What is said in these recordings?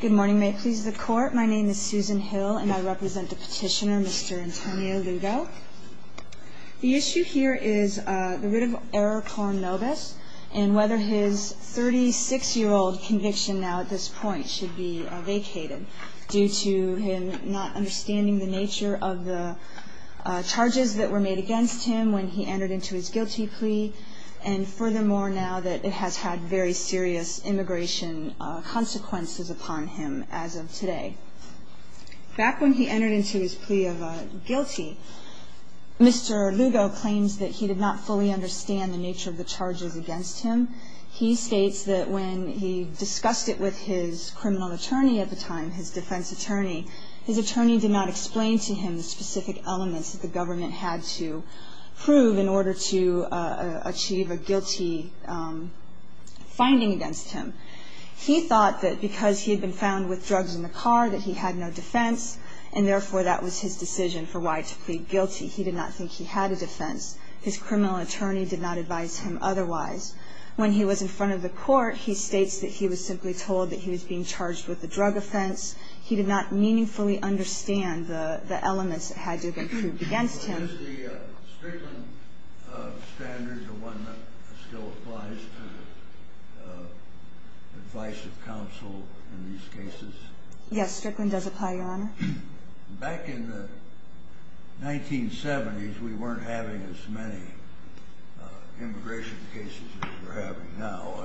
Good morning, may it please the Court. My name is Susan Hill, and I represent the petitioner, Mr. Antonio Lugo. The issue here is the writ of error porn notice and whether his 36-year-old conviction now at this point should be vacated due to him not understanding the nature of the charges that were made against him when he entered into his guilty plea, and furthermore, now that it has had very serious immigration consequences upon him as of today. Back when he entered into his plea of guilty, Mr. Lugo claims that he did not fully understand the nature of the charges against him. He states that when he discussed it with his criminal attorney at the time, his defense attorney, his attorney did not explain to him the specific elements that the government had to prove in order to achieve a guilty finding against him. He thought that because he had been found with drugs in the car that he had no defense, and therefore that was his decision for why to plead guilty. He did not think he had a defense. His criminal attorney did not advise him otherwise. When he was in front of the court, he states that he was simply told that he was being charged with a drug offense. He did not meaningfully understand the elements that had to be proved against him. Is the Strickland standard the one that still applies to the advice of counsel in these cases? Yes, Strickland does apply, Your Honor. Back in the 1970s, we weren't having as many immigration cases as we're having now.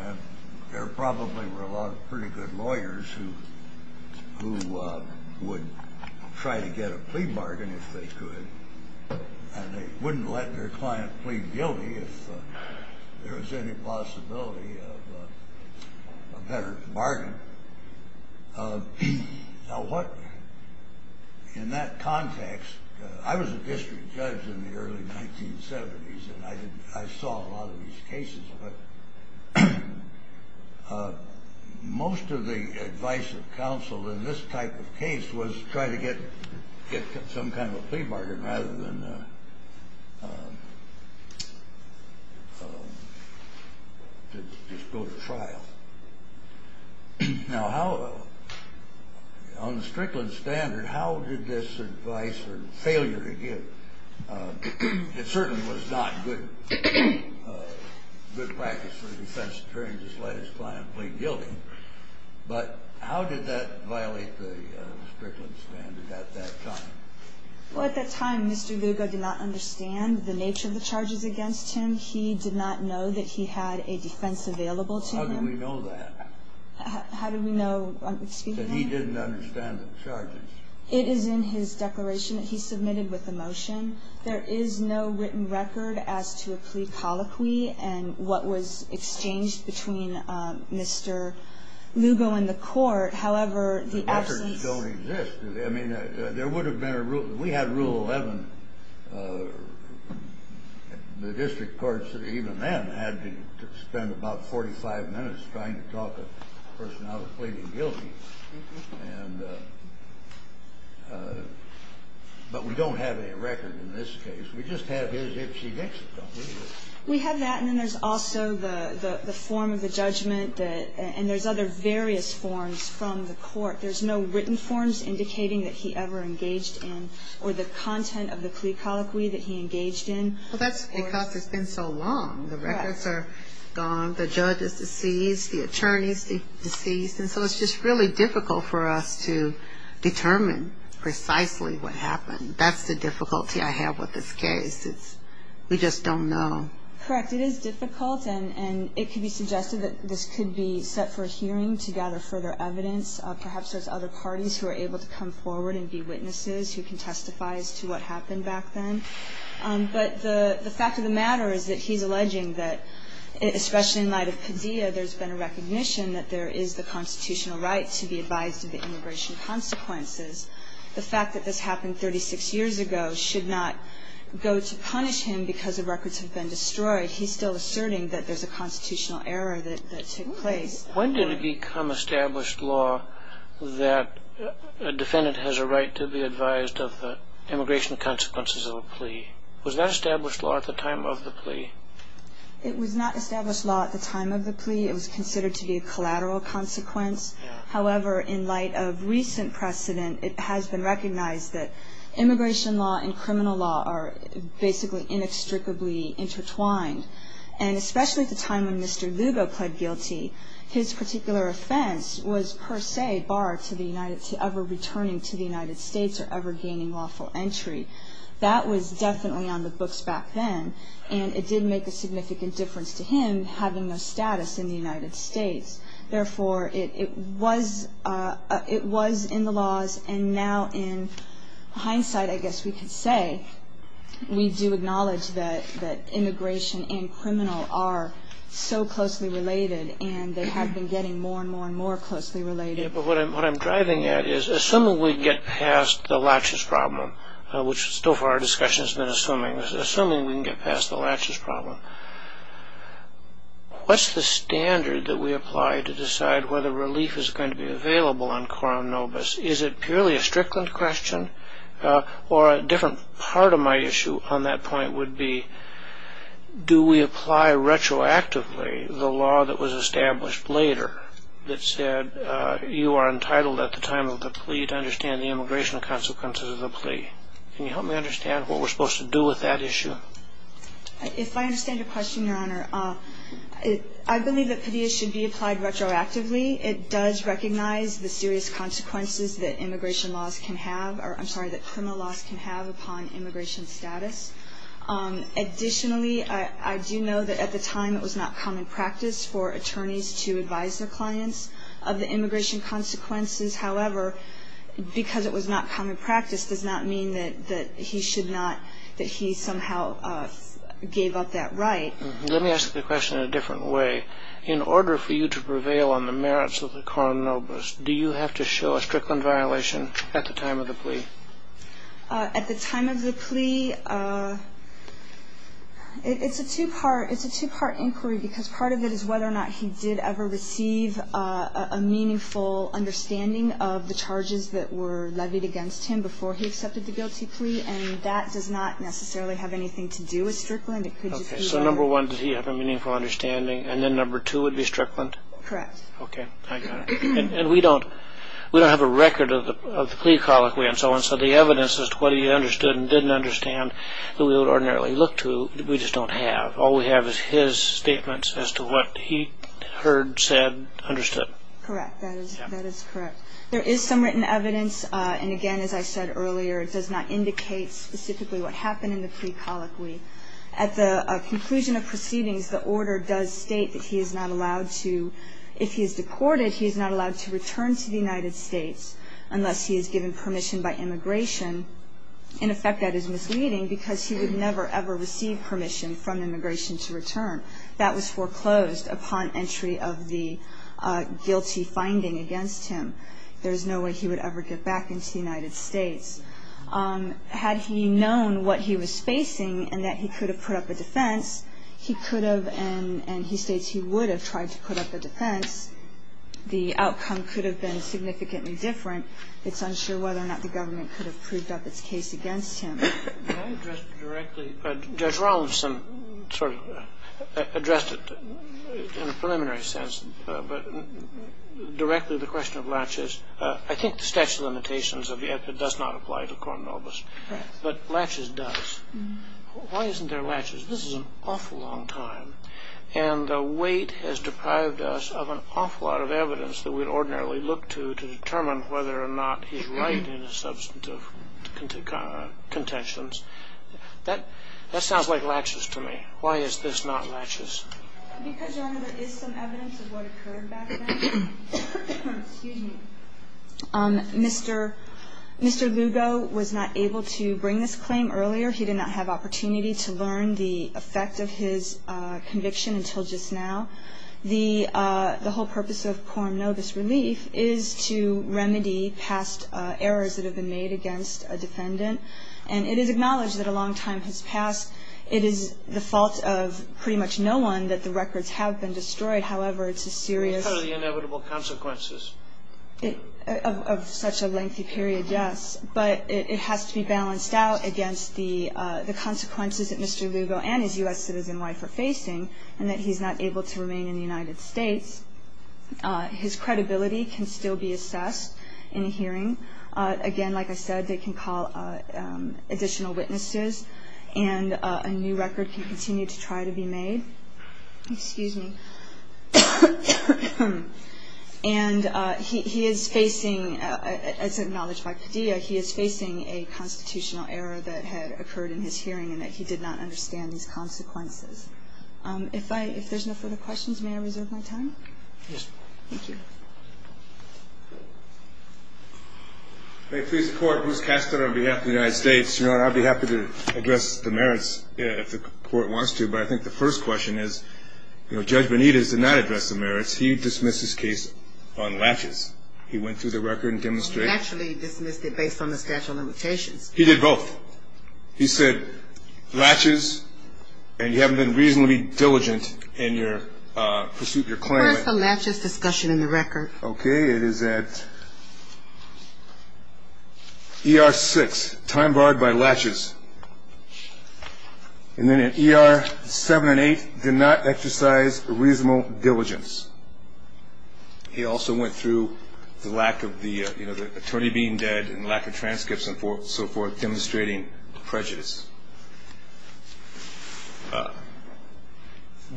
There probably were a lot of pretty good lawyers who would try to get a plea bargain if they could, and they wouldn't let their client plead guilty if there was any possibility of a better bargain. In that context, I was a district judge in the early 1970s, and I saw a lot of these cases, but most of the advice of counsel in this type of case was to try to get some kind of a plea bargain rather than just go to trial. Now, on the Strickland standard, how did this advice or failure to give, it certainly was not good practice for the defense attorney to just let his client plead guilty, but how did that violate the Strickland standard at that time? Well, at that time, Mr. Lugo did not understand the nature of the charges against him. He did not know that he had a defense available to him. How do we know that? How do we know, speak to me? That he didn't understand the charges. It is in his declaration that he submitted with the motion. There is no written record as to a plea colloquy and what was exchanged between Mr. Lugo and the court. However, the absence— The records don't exist. I mean, there would have been a rule. We had Rule 11. The district courts, even then, had to spend about 45 minutes trying to talk a person out of pleading guilty. But we don't have any record in this case. We just have his if she makes a plea. We have that, and then there's also the form of the judgment, and there's other various forms from the court. There's no written forms indicating that he ever engaged in or the content of the plea colloquy that he engaged in. Well, that's because it's been so long. Correct. The records are gone. The judge is deceased. The attorney is deceased. And so it's just really difficult for us to determine precisely what happened. That's the difficulty I have with this case is we just don't know. Correct. It is difficult, and it could be suggested that this could be set for a hearing to gather further evidence, perhaps there's other parties who are able to come forward and be witnesses who can testify as to what happened back then. But the fact of the matter is that he's alleging that, especially in light of Padilla, there's been a recognition that there is the constitutional right to be advised of the immigration consequences. The fact that this happened 36 years ago should not go to punish him because the records have been destroyed. He's still asserting that there's a constitutional error that took place. When did it become established law that a defendant has a right to be advised of the immigration consequences of a plea? Was that established law at the time of the plea? It was not established law at the time of the plea. It was considered to be a collateral consequence. However, in light of recent precedent, it has been recognized that immigration law and criminal law are basically inextricably intertwined. And especially at the time when Mr. Lugo pled guilty, his particular offense was per se barred to ever returning to the United States or ever gaining lawful entry. That was definitely on the books back then, and it did make a significant difference to him having no status in the United States. Therefore, it was in the laws, and now in hindsight, I guess we could say, we do acknowledge that immigration and criminal are so closely related, and they have been getting more and more and more closely related. But what I'm driving at is, assuming we get past the latches problem, which so far our discussion has been assuming, assuming we can get past the latches problem, what's the standard that we apply to decide whether relief is going to be available on coram nobis? Is it purely a Strickland question? Or a different part of my issue on that point would be, do we apply retroactively the law that was established later that said, you are entitled at the time of the plea to understand the immigration consequences of the plea? Can you help me understand what we're supposed to do with that issue? If I understand your question, Your Honor, I believe that PIDEA should be applied retroactively. It does recognize the serious consequences that immigration laws can have, or I'm sorry, that criminal laws can have upon immigration status. Additionally, I do know that at the time, it was not common practice for attorneys to advise their clients of the immigration consequences. However, because it was not common practice does not mean that he should not, that he somehow gave up that right. Let me ask the question in a different way. In order for you to prevail on the merits of the coram nobis, do you have to show a Strickland violation at the time of the plea? At the time of the plea, it's a two-part inquiry, because part of it is whether or not he did ever receive a meaningful understanding of the charges that were levied against him before he accepted the guilty plea, and that does not necessarily have anything to do with Strickland. Okay, so number one, does he have a meaningful understanding, and then number two would be Strickland? Correct. Okay, I got it. And we don't have a record of the plea colloquy and so on, so the evidence as to whether he understood and didn't understand that we would ordinarily look to, we just don't have. All we have is his statements as to what he heard, said, understood. Correct. That is correct. There is some written evidence, and again, as I said earlier, it does not indicate specifically what happened in the plea colloquy. At the conclusion of proceedings, the order does state that he is not allowed to, if he is deported, he is not allowed to return to the United States unless he is given permission by immigration. In effect, that is misleading because he would never, ever receive permission from immigration to return. That was foreclosed upon entry of the guilty finding against him. There is no way he would ever get back into the United States. Had he known what he was facing and that he could have put up a defense, he could have and he states he would have tried to put up a defense. The outcome could have been significantly different. It's unsure whether or not the government could have proved up its case against him. Can I address directly? Judge Rollinson sort of addressed it in a preliminary sense, but directly the question of latches. I think the statute of limitations does not apply to Cornobus. Correct. But latches does. Why isn't there latches? This is an awful long time, and the weight has deprived us of an awful lot of evidence that we would ordinarily look to to determine whether or not he's right in his substantive contentions. That sounds like latches to me. Why is this not latches? Because, Your Honor, there is some evidence of what occurred back then. Excuse me. Mr. Lugo was not able to bring this claim earlier. He did not have opportunity to learn the effect of his conviction until just now. The whole purpose of Cornobus relief is to remedy past errors that have been made against a defendant, and it is acknowledged that a long time has passed. It is the fault of pretty much no one that the records have been destroyed. However, it's a serious of such a lengthy period, yes, but it has to be balanced out against the consequences that Mr. Lugo and his U.S. citizen wife are facing and that he's not able to remain in the United States. His credibility can still be assessed in a hearing. Again, like I said, they can call additional witnesses, and a new record can continue to try to be made. Excuse me. And he is facing, as acknowledged by Padilla, he is facing a constitutional error that had occurred in his hearing and that he did not understand these consequences. If there's no further questions, may I reserve my time? Yes. Thank you. May it please the Court, Bruce Kastner on behalf of the United States. Your Honor, I'd be happy to address the merits if the Court wants to, but I think the first question is Judge Benitez did not address the merits. He dismissed his case on latches. He went through the record and demonstrated. He actually dismissed it based on the statute of limitations. He did both. He said latches, and you haven't been reasonably diligent in your pursuit of your claimant. Where's the latches discussion in the record? Okay, it is at ER 6, time barred by latches. And then at ER 7 and 8, did not exercise reasonable diligence. He also went through the lack of the attorney being dead and lack of transcripts and so forth demonstrating prejudice.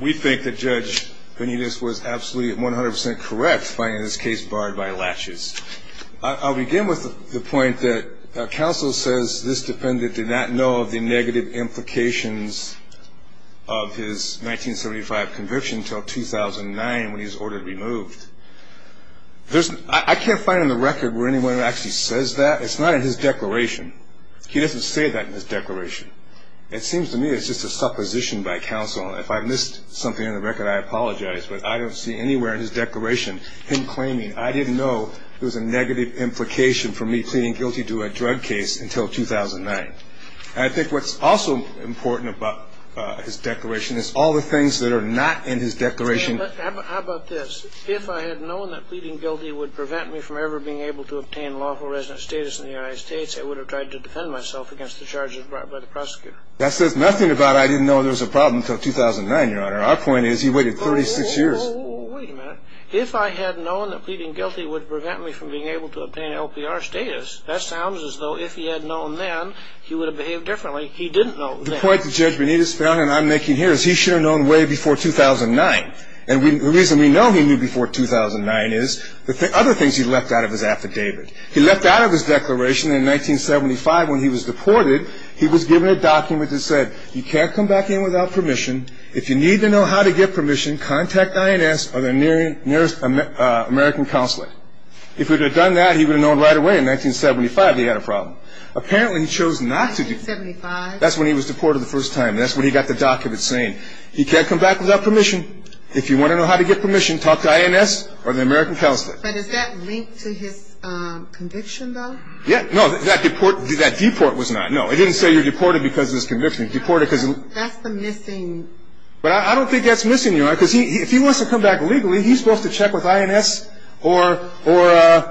We think that Judge Benitez was absolutely 100% correct finding this case barred by latches. I'll begin with the point that counsel says this defendant did not know of the negative implications of his 1975 conviction until 2009 when he was ordered removed. I can't find in the record where anyone actually says that. It's not in his declaration. He doesn't say that in his declaration. It seems to me it's just a supposition by counsel. If I've missed something in the record, I apologize, but I don't see anywhere in his declaration him claiming, I didn't know there was a negative implication for me pleading guilty to a drug case until 2009. I think what's also important about his declaration is all the things that are not in his declaration. How about this? If I had known that pleading guilty would prevent me from ever being able to obtain lawful resident status in the United States, I would have tried to defend myself against the charges brought by the prosecutor. That says nothing about I didn't know there was a problem until 2009, Your Honor. Our point is he waited 36 years. Wait a minute. If I had known that pleading guilty would prevent me from being able to obtain LPR status, that sounds as though if he had known then, he would have behaved differently. He didn't know then. The point that Judge Benitez found, and I'm making here, is he should have known way before 2009. And the reason we know he knew before 2009 is the other things he left out of his affidavit. He left out of his declaration in 1975 when he was deported, he was given a document that said, you can't come back in without permission. If you need to know how to get permission, contact INS or the nearest American counselor. If he would have done that, he would have known right away in 1975 that he had a problem. Apparently he chose not to. 1975? That's when he was deported the first time. That's when he got the document saying he can't come back without permission. If you want to know how to get permission, talk to INS or the American counselor. But is that linked to his conviction, though? Yeah. No, that deport was not. No, it didn't say you're deported because of this conviction. That's the missing. But I don't think that's missing, Your Honor, because if he wants to come back legally, he's supposed to check with INS or an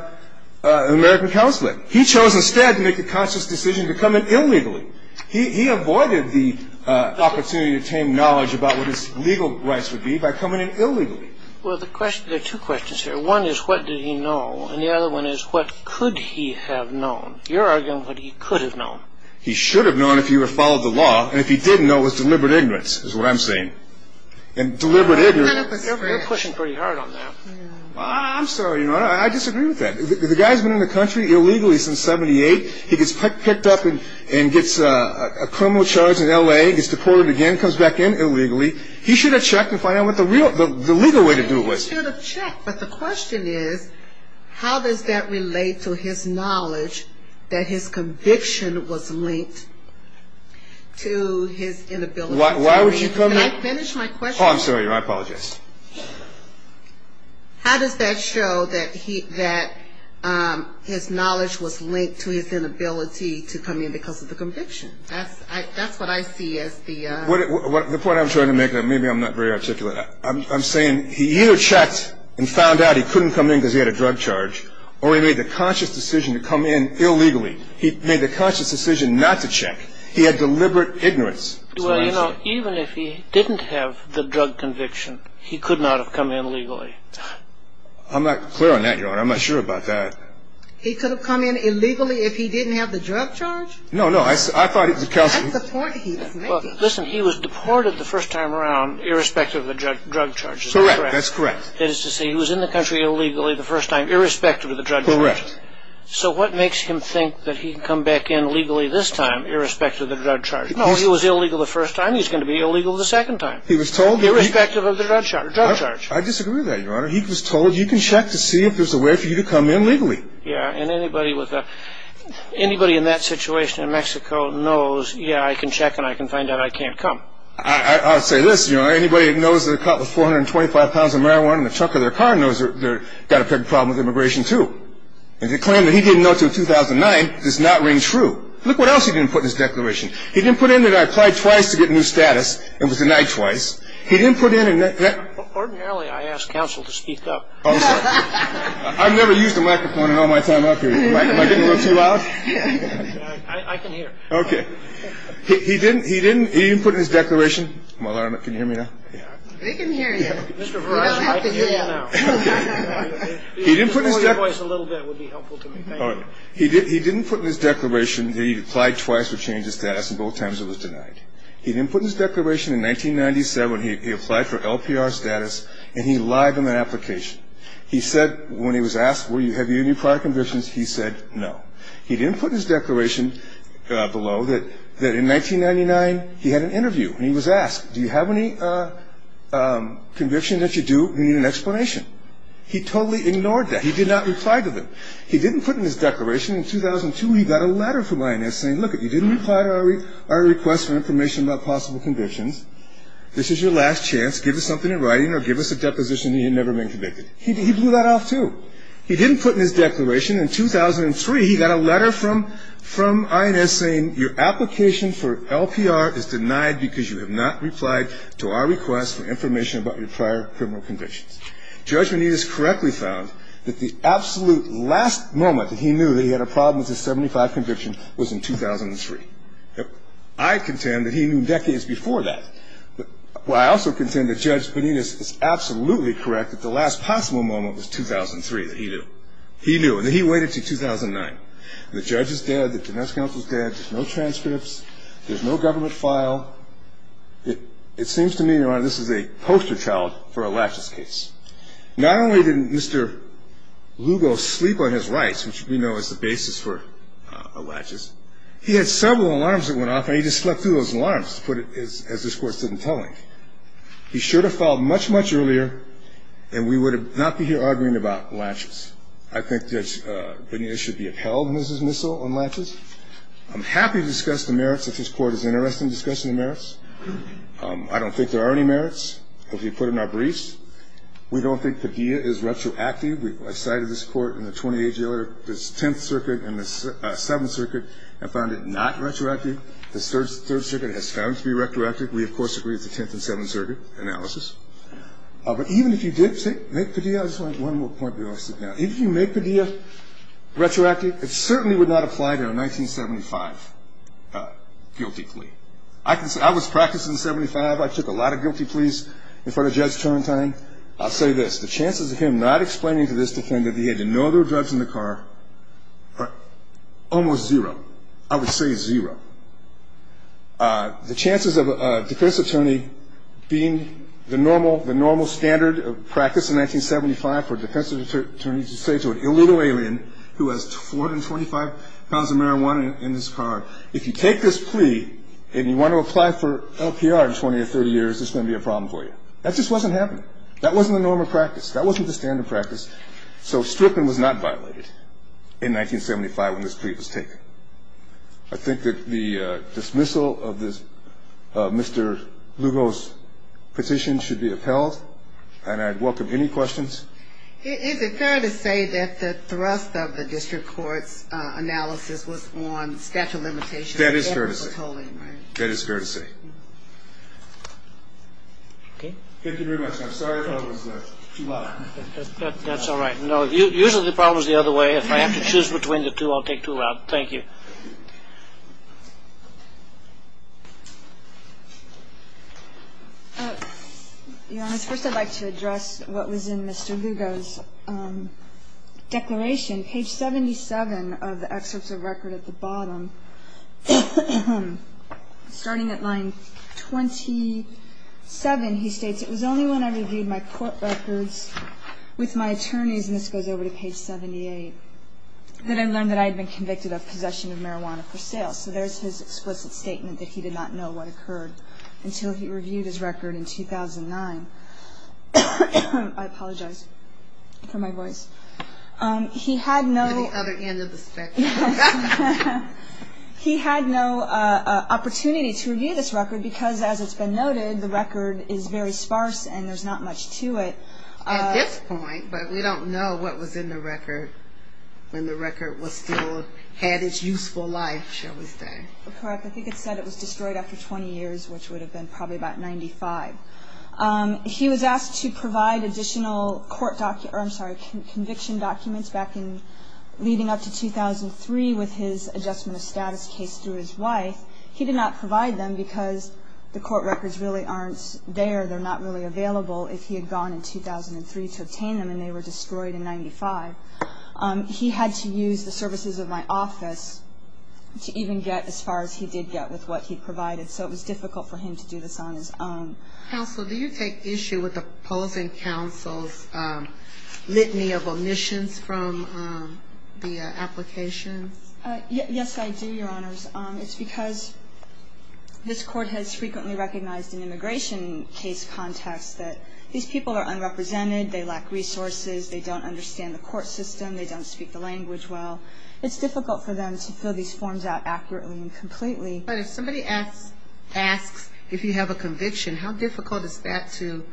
American counselor. He chose instead to make a conscious decision to come in illegally. He avoided the opportunity to attain knowledge about what his legal rights would be by coming in illegally. Well, there are two questions here. One is, what did he know? And the other one is, what could he have known? You're arguing what he could have known. He should have known if he had followed the law. And if he didn't know, it was deliberate ignorance is what I'm saying. Deliberate ignorance. You're pushing pretty hard on that. I'm sorry, Your Honor. I disagree with that. The guy's been in the country illegally since 1978. He gets picked up and gets a criminal charge in L.A., gets deported again, comes back in illegally. He should have checked to find out what the legal way to do it was. He should have checked. But the question is, how does that relate to his knowledge that his conviction was linked to his inability to attain knowledge? Why would you come in? Can I finish my question? Oh, I'm sorry, Your Honor. I apologize. How does that show that his knowledge was linked to his inability to come in because of the conviction? That's what I see as the... The point I'm trying to make, and maybe I'm not very articulate, I'm saying he either checked and found out he couldn't come in because he had a drug charge, or he made the conscious decision to come in illegally. He made the conscious decision not to check. He had deliberate ignorance. Well, you know, even if he didn't have the drug conviction, he could not have come in legally. I'm not clear on that, Your Honor. I'm not sure about that. He could have come in illegally if he didn't have the drug charge? No, no. I thought it was... That's the point he was making. Listen, he was deported the first time around, irrespective of the drug charges. Correct. That's correct. That is to say, he was in the country illegally the first time, irrespective of the drug charges. Correct. So what makes him think that he can come back in legally this time, irrespective of the drug charges? No, he was illegal the first time. He's going to be illegal the second time. He was told... Irrespective of the drug charge. I disagree with that, Your Honor. He was told, you can check to see if there's a way for you to come in legally. Yeah, and anybody in that situation in Mexico knows, yeah, I can check and I can find out I can't come. I'll say this. Anybody that knows that a cop with 425 pounds of marijuana in the trunk of their car knows they've got a big problem with immigration, too. And the claim that he didn't know until 2009 does not ring true. Look what else he didn't put in his declaration. He didn't put in that I applied twice to get a new status and was denied twice. He didn't put in that... Ordinarily, I ask counsel to speak up. Oh, I'm sorry. I've never used a microphone in all my time out here. Am I getting a little too loud? I can hear. Okay. He didn't put in his declaration. Can you hear me now? They can hear you. Mr. Verizon, I can hear you now. Okay. If you could just lower your voice a little bit, it would be helpful to me. Thank you. He didn't put in his declaration that he applied twice to change his status, and both times it was denied. He didn't put in his declaration in 1997 he applied for LPR status, and he lied on that application. He said when he was asked, have you any prior convictions, he said no. He didn't put in his declaration below that in 1999 he had an interview, and he was asked, do you have any convictions that you do and you need an explanation. He totally ignored that. He did not reply to them. He didn't put in his declaration. In 2002, he got a letter from INS saying, look, if you didn't reply to our request for information about possible convictions, this is your last chance. Give us something in writing or give us a deposition and you'll never have been convicted. He blew that off, too. He didn't put in his declaration. In 2003, he got a letter from INS saying, your application for LPR is denied because you have not replied to our request for information about your prior criminal convictions. Judge Benitez correctly found that the absolute last moment that he knew that he had a problem with his 75 conviction was in 2003. I contend that he knew decades before that. I also contend that Judge Benitez is absolutely correct that the last possible moment was 2003 that he knew. He knew, and he waited until 2009. The judge is dead. The defense counsel is dead. There's no transcripts. There's no government file. It seems to me, Your Honor, this is a poster child for a laches case. Not only did Mr. Lugo sleep on his rights, which we know is the basis for a laches, he had several alarms that went off, and he just slept through those alarms, to put it as this Court's didn't tell him. He should have filed much, much earlier, and we would not be here arguing about laches. I think Judge Benitez should be upheld as his missile on laches. I'm happy to discuss the merits if this Court is interested in discussing the merits. I don't think there are any merits. If you put it in our briefs, we don't think Padilla is retroactive. I cited this Court in the 28th Circuit, the 10th Circuit, and the 7th Circuit, and found it not retroactive. The 3rd Circuit has found it to be retroactive. We, of course, agree with the 10th and 7th Circuit analysis. But even if you did make Padilla, I just want one more point before I sit down. If you make Padilla retroactive, it certainly would not apply to a 1975 guilty plea. I was practicing in 75. I took a lot of guilty pleas in front of Judge Turrentine. I'll say this. The chances of him not explaining to this defendant that he had to know there were drugs in the car are almost zero. I would say zero. The chances of a defense attorney being the normal standard of practice in 1975 for a defense attorney to say to an illegal alien who has 425 pounds of marijuana in his car, if you take this plea and you want to apply for LPR in 20 or 30 years, it's going to be a problem for you. That just wasn't happening. That wasn't the normal practice. That wasn't the standard practice. So stripping was not violated in 1975 when this plea was taken. I think that the dismissal of Mr. Lugo's petition should be upheld, and I'd welcome any questions. Is it fair to say that the thrust of the district court's analysis was on statute of limitations? That is fair to say. That is fair to say. Okay. Thank you very much. I'm sorry if I was too loud. That's all right. No, usually the problem is the other way. If I have to choose between the two, I'll take two out. Thank you. Your Honor, first I'd like to address what was in Mr. Lugo's declaration, page 77 of the excerpts of record at the bottom. Starting at line 27, he states, it was only when I reviewed my court records with my attorneys, and this goes over to page 78, that I learned that I had been convicted of possession of marijuana. So there's his explicit statement that he did not know what occurred until he reviewed his record in 2009. I apologize for my voice. He had no opportunity to review this record because, as it's been noted, the record is very sparse and there's not much to it. At this point, but we don't know what was in the record when the record still had its useful life, shall we say. Correct. I think it said it was destroyed after 20 years, which would have been probably about 95. He was asked to provide additional conviction documents leading up to 2003 with his adjustment of status case through his wife. He did not provide them because the court records really aren't there. They're not really available if he had gone in 2003 to obtain them, and they were destroyed in 95. He had to use the services of my office to even get as far as he did get with what he provided. So it was difficult for him to do this on his own. Counsel, do you take issue with opposing counsel's litany of omissions from the applications? Yes, I do, Your Honors. It's because this court has frequently recognized in immigration case contexts that these people are unrepresented, they lack resources, they don't understand the court system, they don't speak the language well. It's difficult for them to fill these forms out accurately and completely. But if somebody asks if you have a conviction, how difficult is that to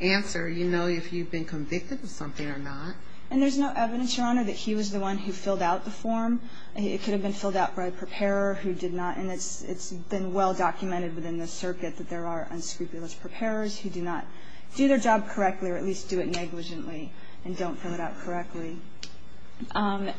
answer if you've been convicted of something or not? And there's no evidence, Your Honor, that he was the one who filled out the form. It could have been filled out by a preparer who did not, and it's been well documented within the circuit that there are unscrupulous preparers who do not do their job correctly or at least do it negligently and don't fill it out correctly.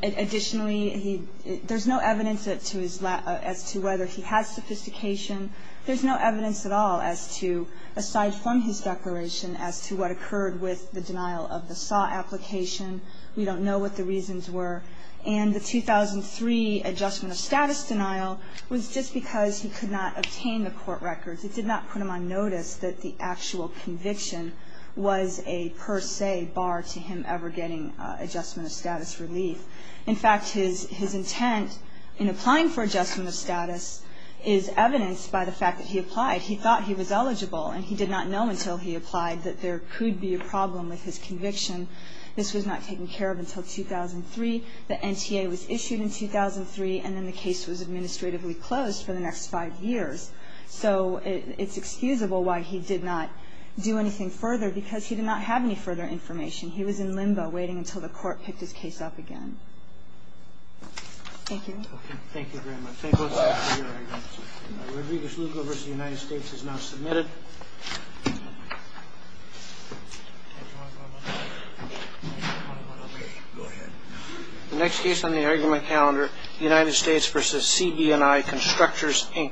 Additionally, there's no evidence as to whether he has sophistication. There's no evidence at all as to, aside from his declaration, as to what occurred with the denial of the SAW application. We don't know what the reasons were. And the 2003 adjustment of status denial was just because he could not obtain the court records. It did not put him on notice that the actual conviction was a per se bar to him ever getting adjustment of status relief. In fact, his intent in applying for adjustment of status is evidenced by the fact that he applied. He thought he was eligible, and he did not know until he applied that there could be a problem with his conviction. This was not taken care of until 2003. The NTA was issued in 2003, and then the case was administratively closed for the next five years. So it's excusable why he did not do anything further, because he did not have any further information. He was in limbo waiting until the court picked his case up again. Thank you. Thank you very much. Thank both of you for your arguments. Rodriguez-Lugo v. United States is now submitted. The next case on the argument calendar, United States v. CB&I Constructors, Inc. Thank you.